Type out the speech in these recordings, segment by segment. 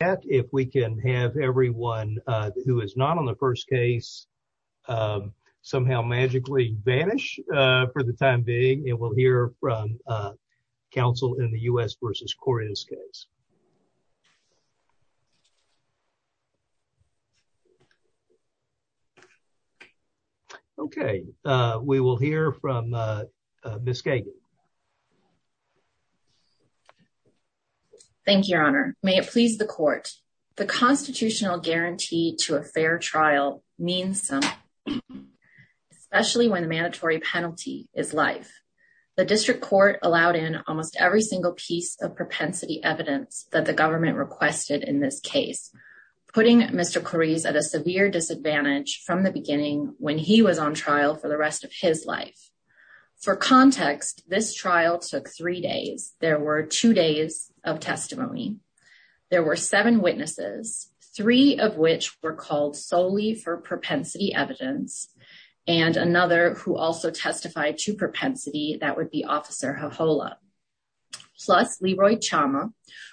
at if we can have everyone who is not on the first case somehow magically vanish for the time being. And we'll hear from counsel in the U.S. v. Coriz case. Okay, we will hear from Ms. Kagan. Thank you, Your Honor. May it please the court. The constitutional guarantee to a fair trial means something, especially when the mandatory penalty is life. The district court allowed in almost every single piece of propensity evidence that the government requested in this case, putting Mr. Coriz at a severe disadvantage from the beginning when he was on trial for the rest of his life. For context, this trial took three days. There were two days of testimony. There were seven witnesses, three of which were called solely for propensity evidence, and another who also testified to propensity, that would be Officer Hohola, plus Leroy Chama,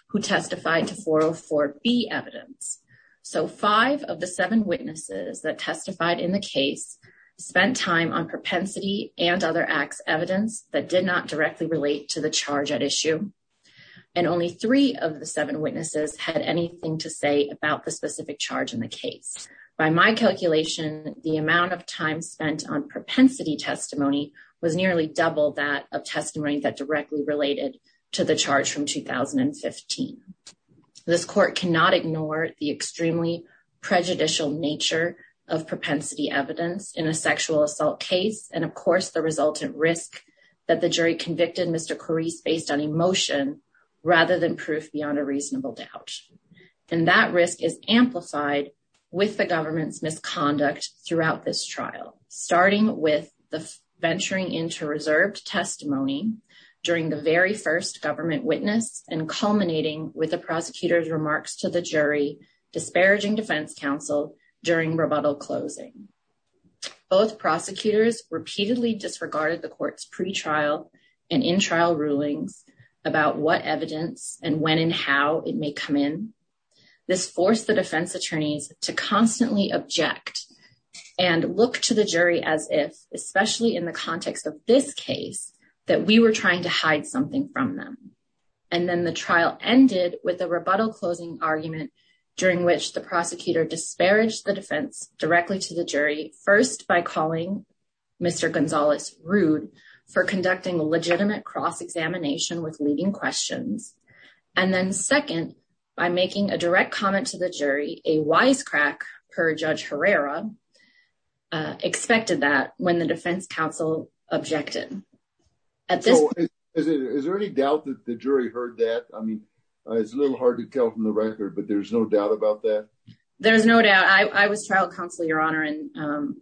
who testified to 404B evidence. So five of the seven witnesses that testified in the case spent time on propensity and other acts evidence that did not directly relate to the charge at issue. And only three of the seven witnesses had anything to say about the specific charge in the case. By my calculation, the amount of time spent on propensity testimony was nearly double that of testimony that directly related to the charge from 2015. This court cannot ignore the extremely prejudicial nature of propensity evidence in a sexual assault case, and of course the resultant risk that the jury convicted Mr. Coriz based on emotion rather than proof beyond a reasonable doubt. And that risk is amplified with the government's misconduct throughout this trial, starting with the venturing into reserved testimony during the very first government witness and culminating with the prosecutor's remarks to the jury disparaging defense counsel during rebuttal closing. Both prosecutors repeatedly disregarded the court's pretrial and in-trial rulings about what evidence and when and how it may come in. This forced the defense attorneys to constantly object and look to the jury as if, especially in the context of this case, that we were trying to hide something from them. And then the trial ended with a rebuttal closing argument during which the prosecutor disparaged the jury, first by calling Mr. Gonzalez rude for conducting a legitimate cross-examination with leading questions, and then second, by making a direct comment to the jury, a wisecrack per Judge Herrera, expected that when the defense counsel objected. So is there any doubt that the jury heard that? I mean, it's a little hard to tell from the record, but there's no doubt about that? There's no doubt. I was trial counsel, Your Honor, and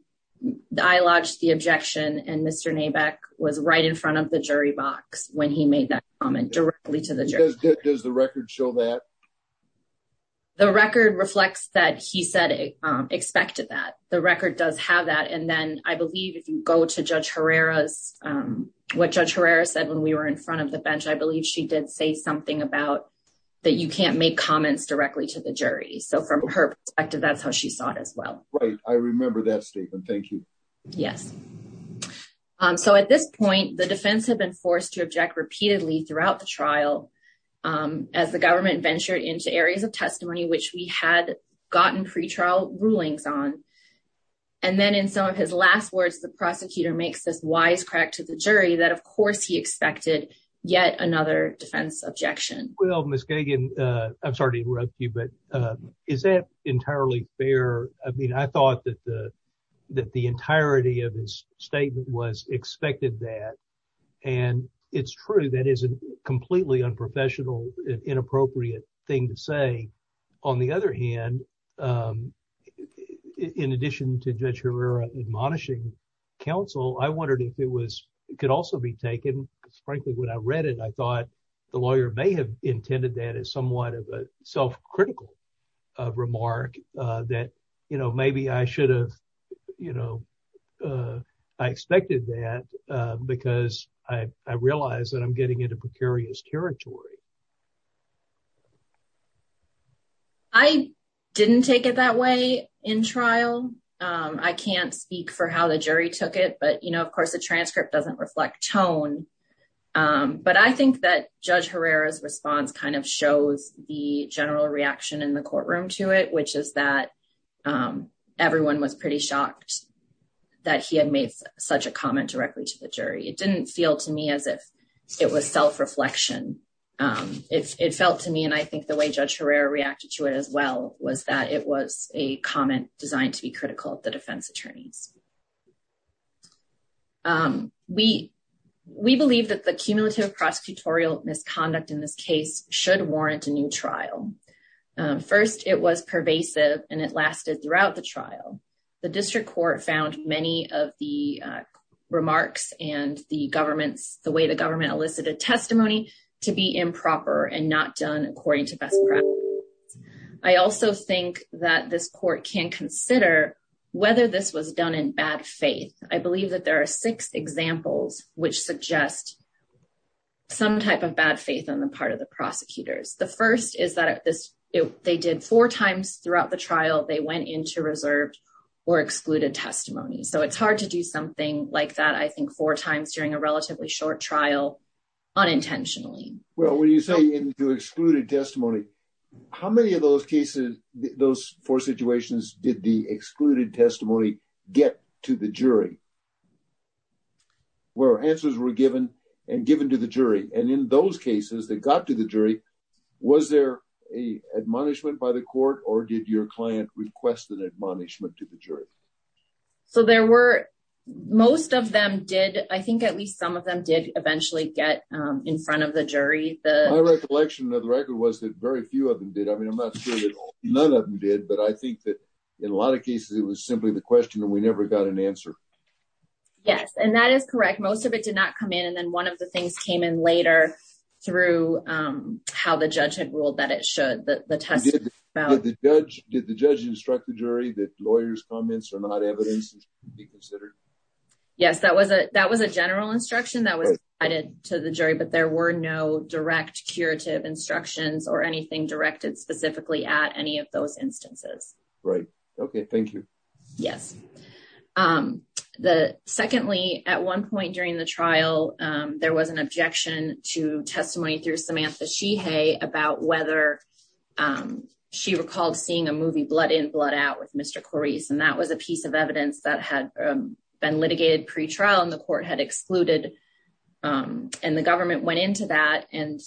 I lodged the objection. And Mr. Nabak was right in front of the jury box when he made that comment directly to the jury. Does the record show that? The record reflects that he said, expected that. The record does have that. And then I believe if you go to Judge Herrera's, what Judge Herrera said when we were in front of the bench, I believe she did say something about that you can't make comments directly to the jury. So from her perspective, that's how she saw it as well. Right. I remember that statement. Thank you. Yes. So at this point, the defense had been forced to object repeatedly throughout the trial as the government ventured into areas of testimony which we had gotten pretrial rulings on. And then in some of his last words, the prosecutor makes this wisecrack to the jury that, of course, he expected yet another defense objection. Well, Ms. Kagan, I'm sorry to interrupt you, but is that entirely fair? I mean, I thought that the entirety of his statement was expected that. And it's true that is a completely unprofessional, inappropriate thing to say. On the other hand, in addition to Judge Herrera admonishing counsel, I wondered if it could also be taken. Frankly, when I read it, I thought the lawyer may have intended that as somewhat of a self-critical remark that maybe I should have expected that because I realize that I'm getting into precarious territory. I didn't take it that way in trial. I can't speak for how the jury took it. Of course, the transcript doesn't reflect tone. But I think that Judge Herrera's response kind of shows the general reaction in the courtroom to it, which is that everyone was pretty shocked that he had made such a comment directly to the jury. It didn't feel to me as if it was self-reflection. It felt to me, and I think the way Judge Herrera reacted to it as well, was that it was a comment designed to be critical of the defense attorneys. We believe that the cumulative prosecutorial misconduct in this case should warrant a new trial. First, it was pervasive and it lasted throughout the trial. The district court found many of the remarks and the way the government elicited testimony to be improper and not done according to best practice. I also think that this court can consider whether this was done in bad faith. I believe that there are six examples which suggest some type of bad faith on the part of the prosecutors. The first is that they did four times throughout the trial, they went into reserved or excluded testimony. So it's hard to do something like that, I think, four times during a relatively short trial, unintentionally. Well, when you say into excluded testimony, how many of those cases, those four situations did the excluded testimony get to the jury? Where answers were given and given to the jury. And in those cases that got to the jury, was there an admonishment by the court or did your client request an admonishment to the jury? So there were, most of them did. I think at least some of them did eventually get in front of the jury. My recollection of the record was that very few of them did. I mean, I'm not sure that none of them did. But I think that in a lot of cases, it was simply the question and we never got an answer. Yes, and that is correct. Most of it did not come in. And then one of the things came in later through how the judge had ruled that it should. Did the judge instruct the jury that lawyers' comments are not evidence to be considered? Yes, that was a general instruction that was provided to the jury. But there were no direct curative instructions or anything directed specifically at any of those instances. Right. Okay. Thank you. Yes. Secondly, at one point during the trial, there was an objection to testimony through Samantha Sheehy about whether she recalled seeing a movie Blood In Blood Out with Mr. Corice. And that was a piece of evidence that had been litigated pretrial and the court had excluded. And the government went into that and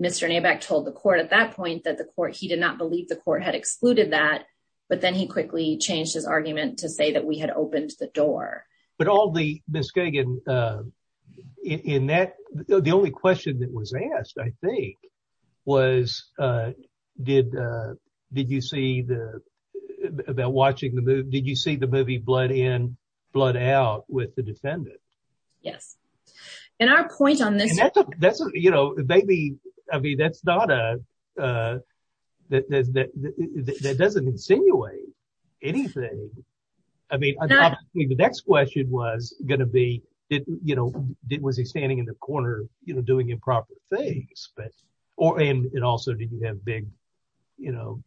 Mr. Nabak told the court at that point that the court, he did not believe the court had excluded that. But then he quickly changed his argument to say that we had opened the door. But all the, Ms. Kagan, in that, the only question that was asked, I think, was did you see the, about watching the movie, did you see the movie Blood In Blood Out with the defendant? Yes. And our point on this. That's, you know, maybe, I mean, that's not a, that doesn't insinuate anything. I mean, the next question was going to be, you know, was he standing in the corner, you know, doing improper things, but, or, and it also didn't have big, you know,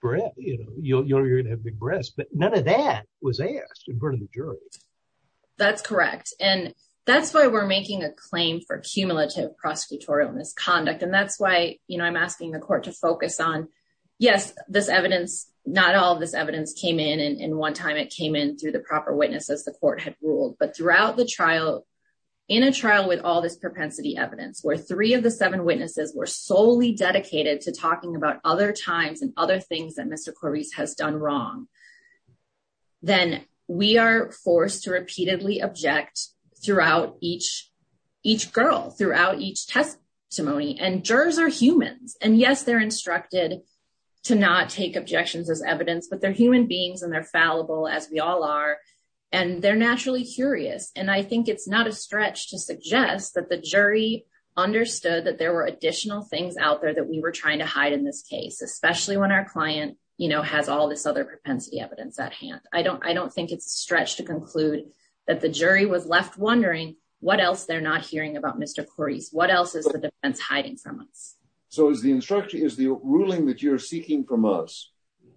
breath, you know, you're going to have big breaths, but none of that was asked in front of the jury. That's correct. And that's why we're making a claim for cumulative prosecutorial misconduct. And that's why, you know, I'm asking the court to focus on, yes, this evidence, not all of this evidence came in. And one time it came in through the proper witnesses, the court had ruled, but throughout the trial, in a trial with all this propensity evidence, where three of the seven witnesses were solely dedicated to talking about other times and other things that Mr. Corbis has done wrong. Then we are forced to repeatedly object throughout each, each girl, throughout each testimony and jurors are humans. And yes, they're instructed to not take objections as evidence, but they're human beings and they're fallible as we all are. And they're naturally curious. And I think it's not a stretch to suggest that the jury understood that there were additional things out there that we were trying to hide in this case, especially when our client, you know, has all this other propensity evidence at hand. I don't, I don't think it's a stretch to conclude that the jury was left wondering what else they're not hearing about Mr. Corbis. What else is the defense hiding from us? So is the instruction, is the ruling that you're seeking from us,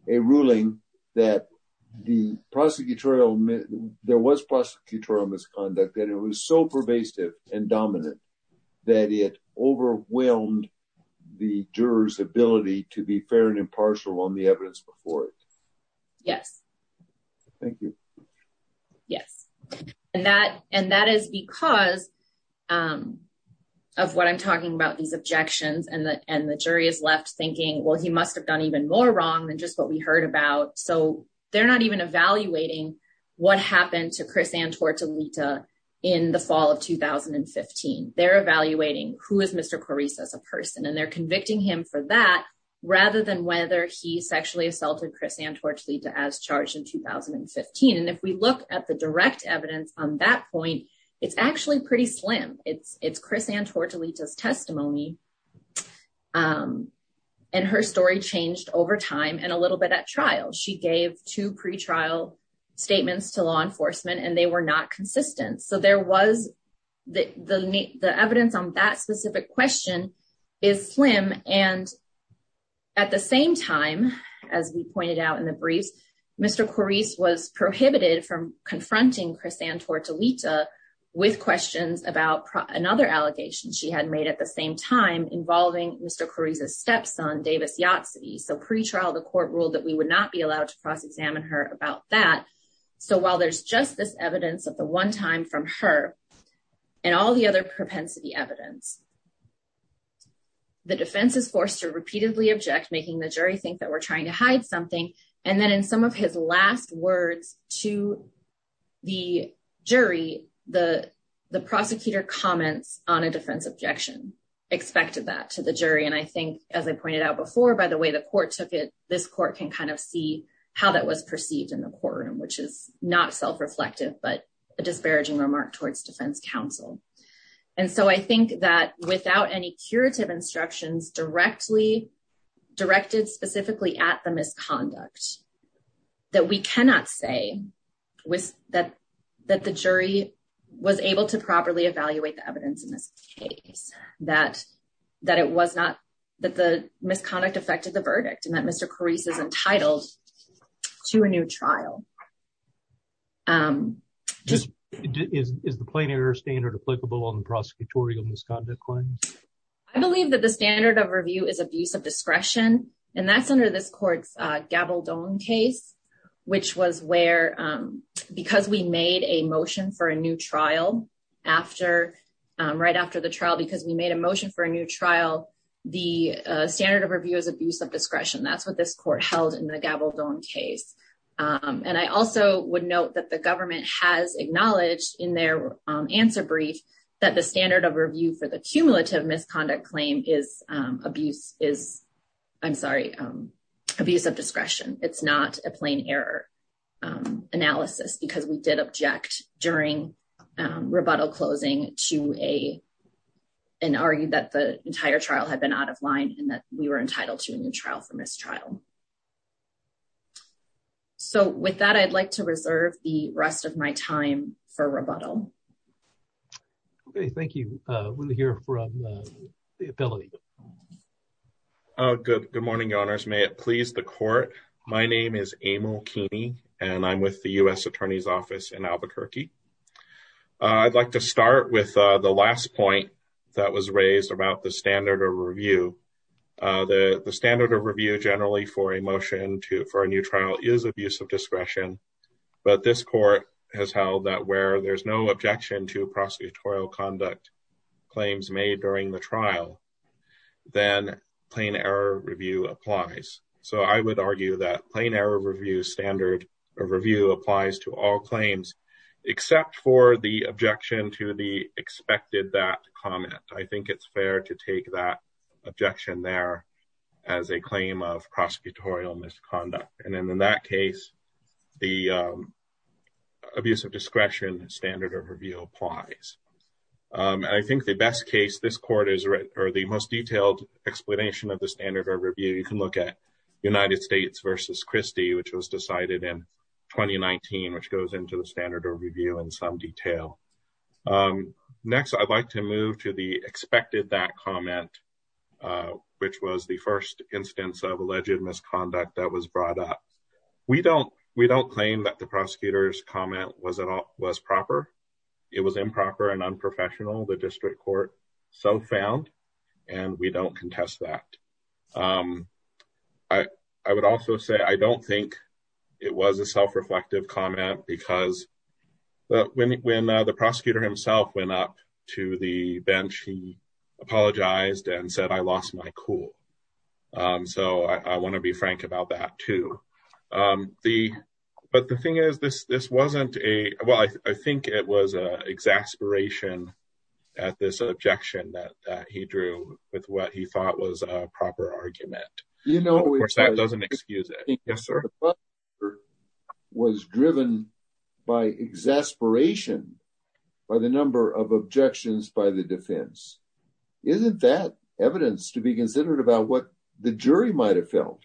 a ruling that the prosecutorial, there was prosecutorial misconduct, that it was so pervasive and dominant that it overwhelmed the jurors' ability to be fair and impartial on the evidence before it? Yes. Thank you. Yes. And that, and that is because of what I'm talking about, these objections and the, and the jury is left thinking, well, he must've done even more wrong than just what we heard about. So they're not even evaluating what happened to Chris Antortolita in the fall of 2015. They're evaluating who is Mr. Corbis as a person, and they're convicting him for that rather than whether he sexually assaulted Chris Antortolita as charged in 2015. And if we look at the direct evidence on that point, it's actually pretty slim. It's Chris Antortolita's testimony. And her story changed over time and a little bit at trial. She gave two pretrial statements to law enforcement and they were not consistent. So there was the, the, the evidence on that specific question is slim. And at the same time, as we pointed out in the briefs, Mr. Corbis was prohibited from confronting Chris Antortolita with questions about another allegation she had made at the same time involving Mr. Corbis' stepson, Davis Yahtzee. So pretrial, the court ruled that we would not be allowed to cross-examine her about that. So while there's just this evidence of the one time from her and all the other propensity evidence, the defense is forced to repeatedly object, making the jury think that we're trying to hide something. And then in some of his last words to the jury, the prosecutor comments on a defense objection expected that to the jury. And I think, as I pointed out before, by the way, the court took it, this court can kind of see how that was perceived in the courtroom, which is not self-reflective, but a disparaging remark towards defense counsel. And so I think that without any curative instructions directed specifically at the misconduct, that we cannot say that the jury was able to properly evaluate the evidence in this case, that the misconduct affected the verdict and that Mr. Corbis is entitled to a new trial. Is the plain error standard applicable on the prosecutorial misconduct claims? I believe that the standard of review is abuse of discretion, and that's under this court's Gabaldon case, which was where, because we made a motion for a new trial, right after the trial, because we made a motion for a new trial, the standard of review is abuse of discretion. That's what this court held in the Gabaldon case. And I also would note that the government has acknowledged in their answer brief that the standard of review for the cumulative misconduct claim is abuse is, I'm sorry, abuse of discretion. It's not a plain error analysis because we did object during rebuttal closing to an argument that the entire trial had been out of line and that we were entitled to a new trial for mistrial. So with that, I'd like to reserve the rest of my time for rebuttal. Okay, thank you. We'll hear from the ability. Good morning, Your Honors. May it please the court. My name is Emil Keeney, and I'm with the U.S. Attorney's Office in Albuquerque. I'd like to start with the last point that was raised about the standard of review. The standard of review generally for a motion for a new trial is abuse of discretion, but this court has held that where there's no objection to prosecutorial conduct claims made during the trial, then plain error review applies. So I would argue that plain error review standard of review applies to all claims except for the objection to the expected that comment. I think it's fair to take that objection there as a claim of prosecutorial misconduct. And in that case, the abuse of discretion standard of review applies. I think the best case this court, or the most detailed explanation of the standard of review, you can look at United States v. Christie, which was decided in 2019, which goes into the standard of review in some detail. Next, I'd like to move to the expected that comment, which was the first instance of alleged misconduct that was brought up. We don't claim that the prosecutor's comment was proper. It was improper and unprofessional. The district court so found, and we don't contest that. I would also say I don't think it was a self-reflective comment because when the prosecutor himself went up to the bench, he apologized and said, I lost my cool. So I want to be frank about that too. But the thing is, this wasn't a, well, I think it was an exasperation at this objection that he drew with what he thought was a proper argument. Of course, that doesn't excuse it. It was driven by exasperation by the number of objections by the defense. Isn't that evidence to be considered about what the jury might've felt?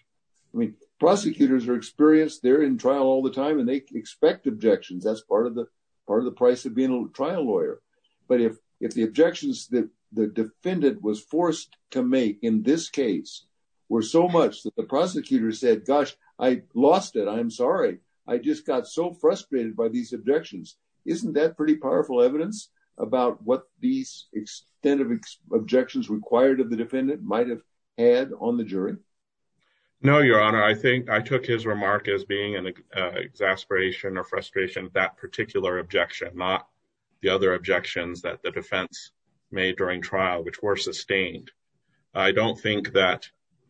I mean, prosecutors are experienced. They're in trial all the time and they expect objections. That's part of the price of being a trial lawyer. But if the objections that the defendant was forced to make in this case were so much that the prosecutor said, gosh, I lost it, I'm sorry. I just got so frustrated by these objections. Isn't that pretty powerful evidence about what these extent of objections required of the defendant might've had on the jury? No, Your Honor, I think I took his remark as being an exasperation or frustration at that particular objection, not the other objections that the defense made during trial, which were sustained. I don't think that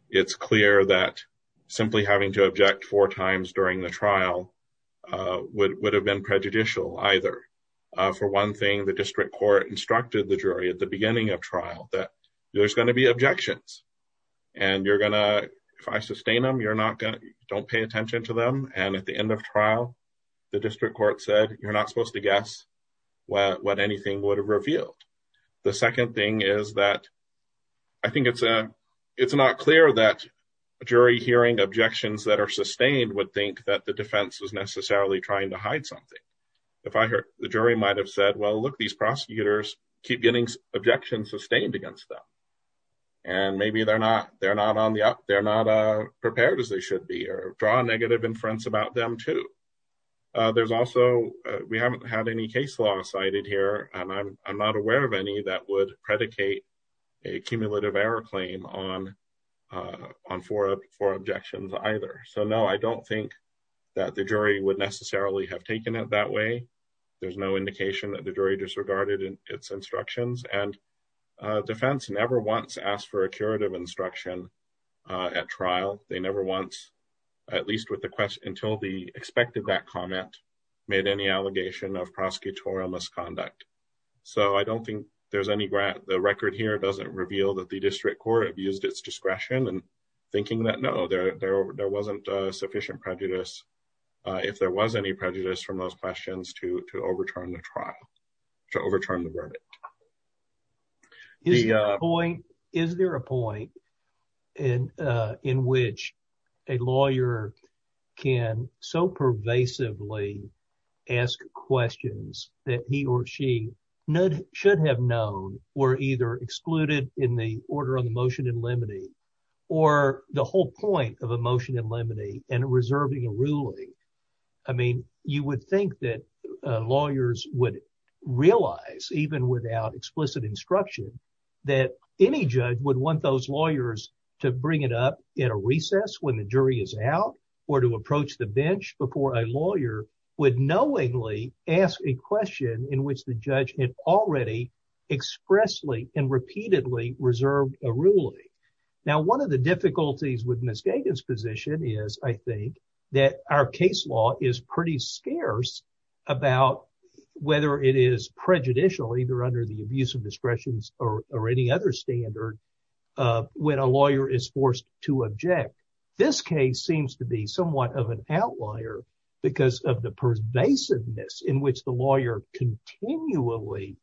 it's clear that simply having to object four times during the trial would have been prejudicial either. For one thing, the district court instructed the jury at the beginning of trial that there's gonna be objections. And if I sustain them, don't pay attention to them. And at the end of trial, the district court said, you're not supposed to guess what anything would have revealed. The second thing is that I think it's not clear that jury hearing objections that are sustained would think that the defense was necessarily trying to hide something. If I heard, the jury might've said, well, look, these prosecutors keep getting objections sustained against them. And maybe they're not prepared as they should be or draw a negative inference about them too. There's also, we haven't had any case law cited here, and I'm not aware of any that would predicate a cumulative error claim on four objections either. So no, I don't think that the jury would necessarily have taken it that way. There's no indication that the jury disregarded its instructions. And defense never wants to ask for a curative instruction at trial. They never wants, at least with the question, until they expected that comment, made any allegation of prosecutorial misconduct. So I don't think there's any grant. The record here doesn't reveal that the district court abused its discretion and thinking that, no, there wasn't a sufficient prejudice. If there was any prejudice from those questions to overturn the trial, to overturn the verdict. Is there a point in which a lawyer can so pervasively ask questions that he or she should have known were either excluded in the order of the motion in limine, or the whole point of a motion in limine and reserving a ruling. I mean, you would think that lawyers would realize even without explicit instruction that any judge would want those lawyers to bring it up in a recess when the jury is out or to approach the bench before a lawyer would knowingly ask a question in which the judge had already expressly and repeatedly reserved a ruling. Now, one of the difficulties with Ms. Gagin's position is I think that our case law is pretty scarce about whether it is prejudicial either under the abuse of discretion or any other standard when a lawyer is forced to object. This case seems to be somewhat of an outlier because of the pervasiveness in which the lawyer continually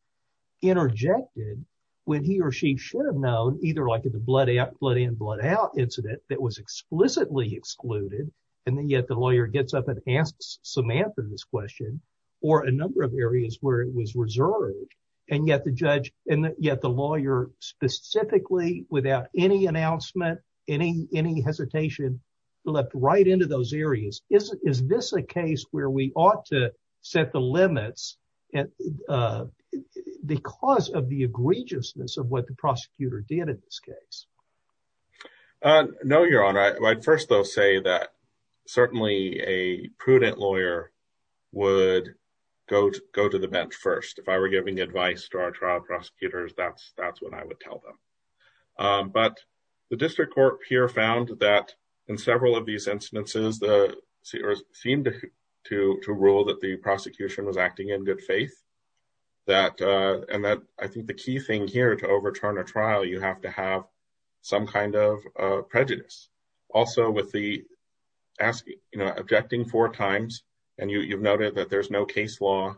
interjected when he or she should have known either like in the blood in, blood out incident that was explicitly excluded and then yet the lawyer gets up and asks Samantha this question or a number of areas where it was reserved and yet the judge and yet the lawyer specifically without any announcement, any hesitation leapt right into those areas. Is this a case where we ought to set the limits because of the egregiousness of what the prosecutor did in this case? No, Your Honor. I'd first though say that certainly a prudent lawyer would go to the bench first. If I were giving advice to our trial prosecutors, that's what I would tell them. But the district court here found that in several of these incidences, it seemed to rule that the prosecution was acting in good faith and that I think the key thing here to overturn a trial, you have to have some kind of prejudice. Also with the, you know, objecting four times and you've noted that there's no case law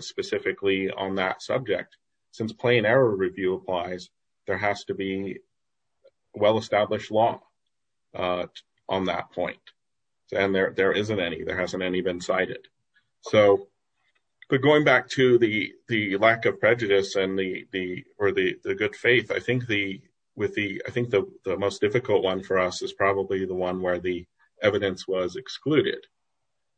specifically on that subject. Since plain error review applies, there has to be well-established law on that point. And there isn't any, there hasn't any been cited. So, but going back to the lack of prejudice and the, or the good faith, I think the most difficult one for us is probably the one where the evidence was excluded.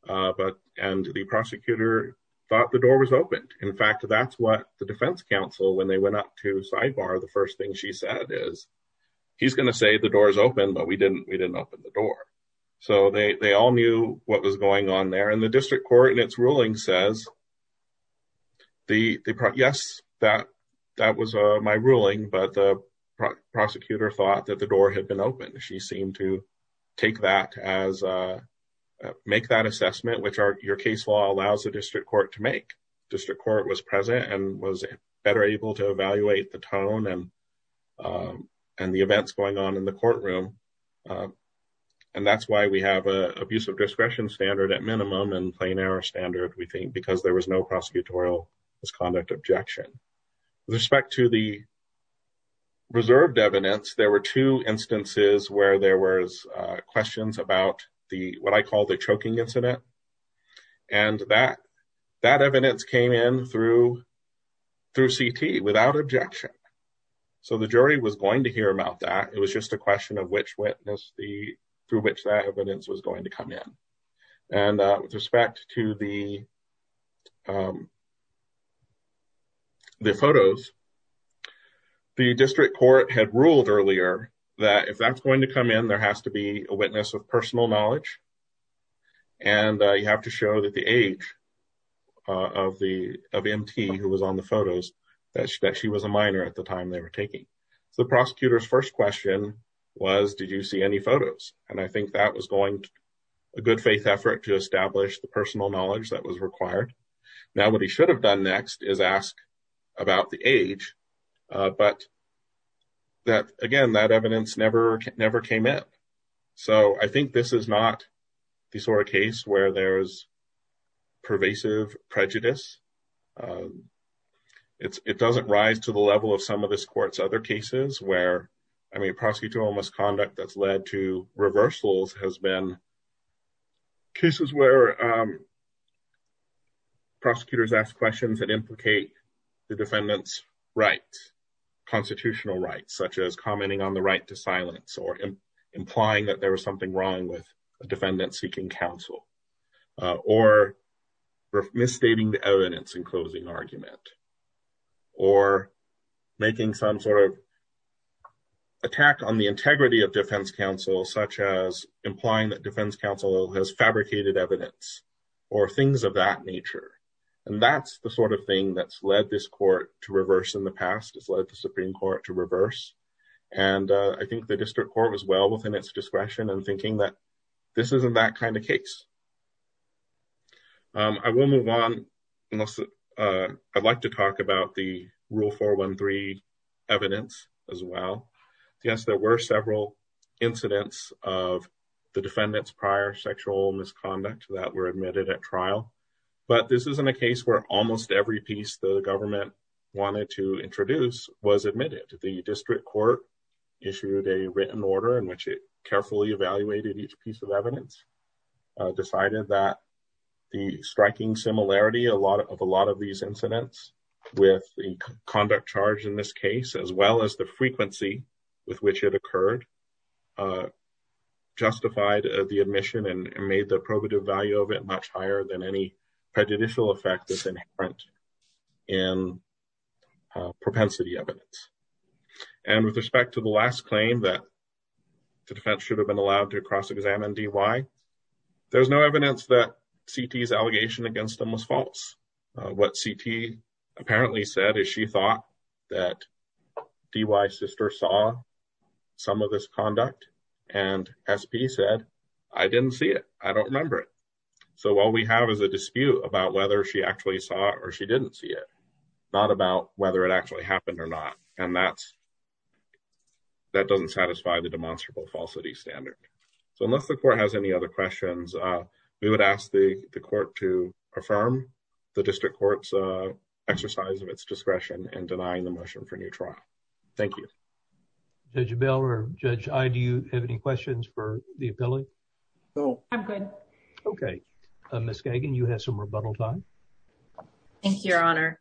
But, and the prosecutor thought the door was opened. In fact, that's what the defense counsel, when they went up to Sybar, the first thing she said is, he's going to say the door is open, but we didn't open the door. So they all knew what was going on there. And the district court in its ruling says, yes, that was my ruling, but the prosecutor thought that the door had been opened. She seemed to take that as, make that assessment, which your case law allows the district court to make. District court was present and was better able to evaluate the tone and the events going on in the courtroom. And that's why we have an abuse of discretion standard at minimum and plain error standard, we think because there was no prosecutorial misconduct objection. With respect to the reserved evidence, there were two instances where there was questions about the, what I call the choking incident. And that, that evidence came in through, through CT without objection. So the jury was going to hear about that. It was just a question of which witness the, through which that evidence was going to come in. And with respect to the, the photos, the district court had ruled earlier that if that's going to come in, there has to be a witness of personal knowledge. And you have to show that the age of the, of MT who was on the photos, that she was a minor at the time they were taking. So the prosecutor's first question was, did you see any photos? And I think that was going a good faith effort to establish the personal knowledge that was required. Now what he should have done next is ask about the age, but that again, that evidence never, never came up. So I think this is not the sort of case where there's pervasive prejudice. It's, it doesn't rise to the level of some of this court's other cases where, I mean, reversals has been cases where prosecutors ask questions that implicate the defendant's rights, constitutional rights, such as commenting on the right to silence or implying that there was something wrong with a defendant seeking counsel, or misstating the evidence in closing argument, or making some sort of attack on the integrity of defense counsel, such as implying that defense counsel has fabricated evidence or things of that nature. And that's the sort of thing that's led this court to reverse in the past. It's led the Supreme Court to reverse. And I think the district court was well within its discretion and thinking that this isn't that kind of case. I will move on. I'd like to talk about the Rule 413 evidence as well. Yes, there were several incidents of the defendant's prior sexual misconduct that were admitted at trial. But this isn't a case where almost every piece the government wanted to introduce was admitted. The district court issued a written order in which it carefully evaluated each piece of evidence, decided that the striking similarity of a lot of these incidents with the conduct charge in this case, as well as the frequency with which it occurred, justified the admission and made the probative value of it much higher than any prejudicial effect that's inherent in propensity evidence. And with respect to the last claim that the defense should have been allowed to cross-examine D-Y, there's no evidence that C.T.'s allegation against them was false. What C.T. apparently said is she thought that D-Y's sister saw some of this conduct and S.P. said, I didn't see it, I don't remember it. So what we have is a dispute about whether she actually saw it or she didn't see it, not about whether it actually happened or not. And that doesn't satisfy the demonstrable falsity standard. So unless the court has any other questions, we would ask the court to affirm the district court's exercise of its discretion in denying the motion for new trial. Thank you. Judge Bell or Judge I, do you have any questions for the appellee? No. I'm good. Okay. Ms. Gagin, you have some rebuttal time. Thank you, Your Honor.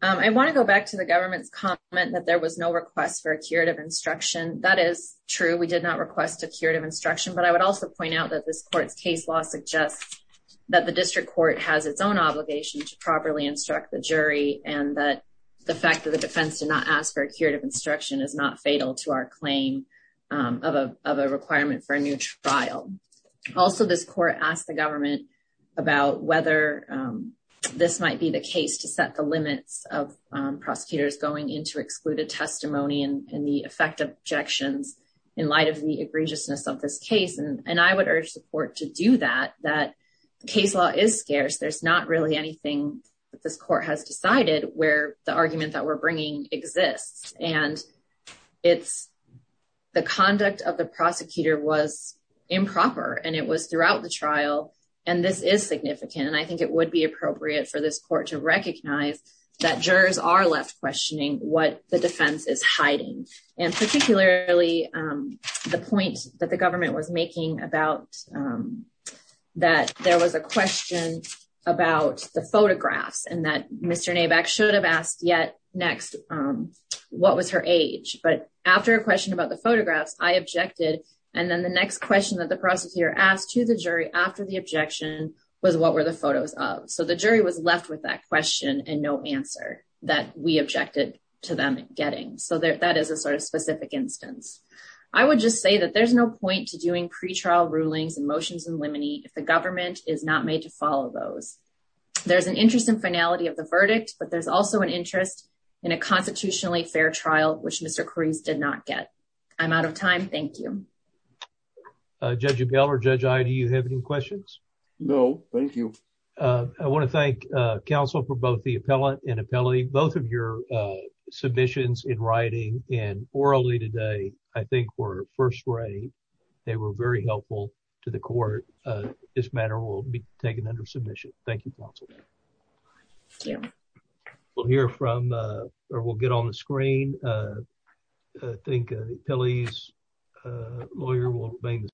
I want to go back to the government's comment that there was no request for a curative instruction. That is true. We did not request a curative instruction, but I would also point out that this court's case law suggests that the district court has its own obligation to properly instruct the jury and that the fact that the defense did not ask for a curative instruction is not fatal to our claim of a requirement for a new trial. Also, this court asked the government about whether this might be the case to set the limits of prosecutors going into excluded testimony and the effect of objections in light of the egregiousness of this case. And I would urge the court to do that, that case law is scarce. There's not really anything that this court has decided where the argument that we're bringing exists. And it's the conduct of the prosecutor was improper and it was throughout the trial. And this is significant. And I think it would be appropriate for this court to recognize that jurors are left questioning what the defense is hiding. And particularly the point that the government was making about that there was a question about the photographs and that Mr. Nabak should have asked yet next, what was her age? But after a question about the photographs, I objected. And then the next question that the prosecutor asked to the jury after the objection was what were the photos of? So the jury was left with that question and no answer that we objected to them getting. So that is a sort of specific instance. I would just say that there's no point to doing pretrial rulings and motions in limine if the government is not made to follow those. There's an interest in finality of the verdict, but there's also an interest in a constitutionally fair trial, which Mr. Cruz did not get. I'm out of time. Thank you. Judge Abell or Judge Ide, do you have any questions? No. Thank you. I want to thank counsel for both the appellate and appellate. Both of your submissions in writing and orally today, I think were first rate. They were very helpful to the court. This matter will be taken under submission. Thank you, counsel. Thank you. We'll hear from or we'll get on the screen. I think Pilley's lawyer will remain the same.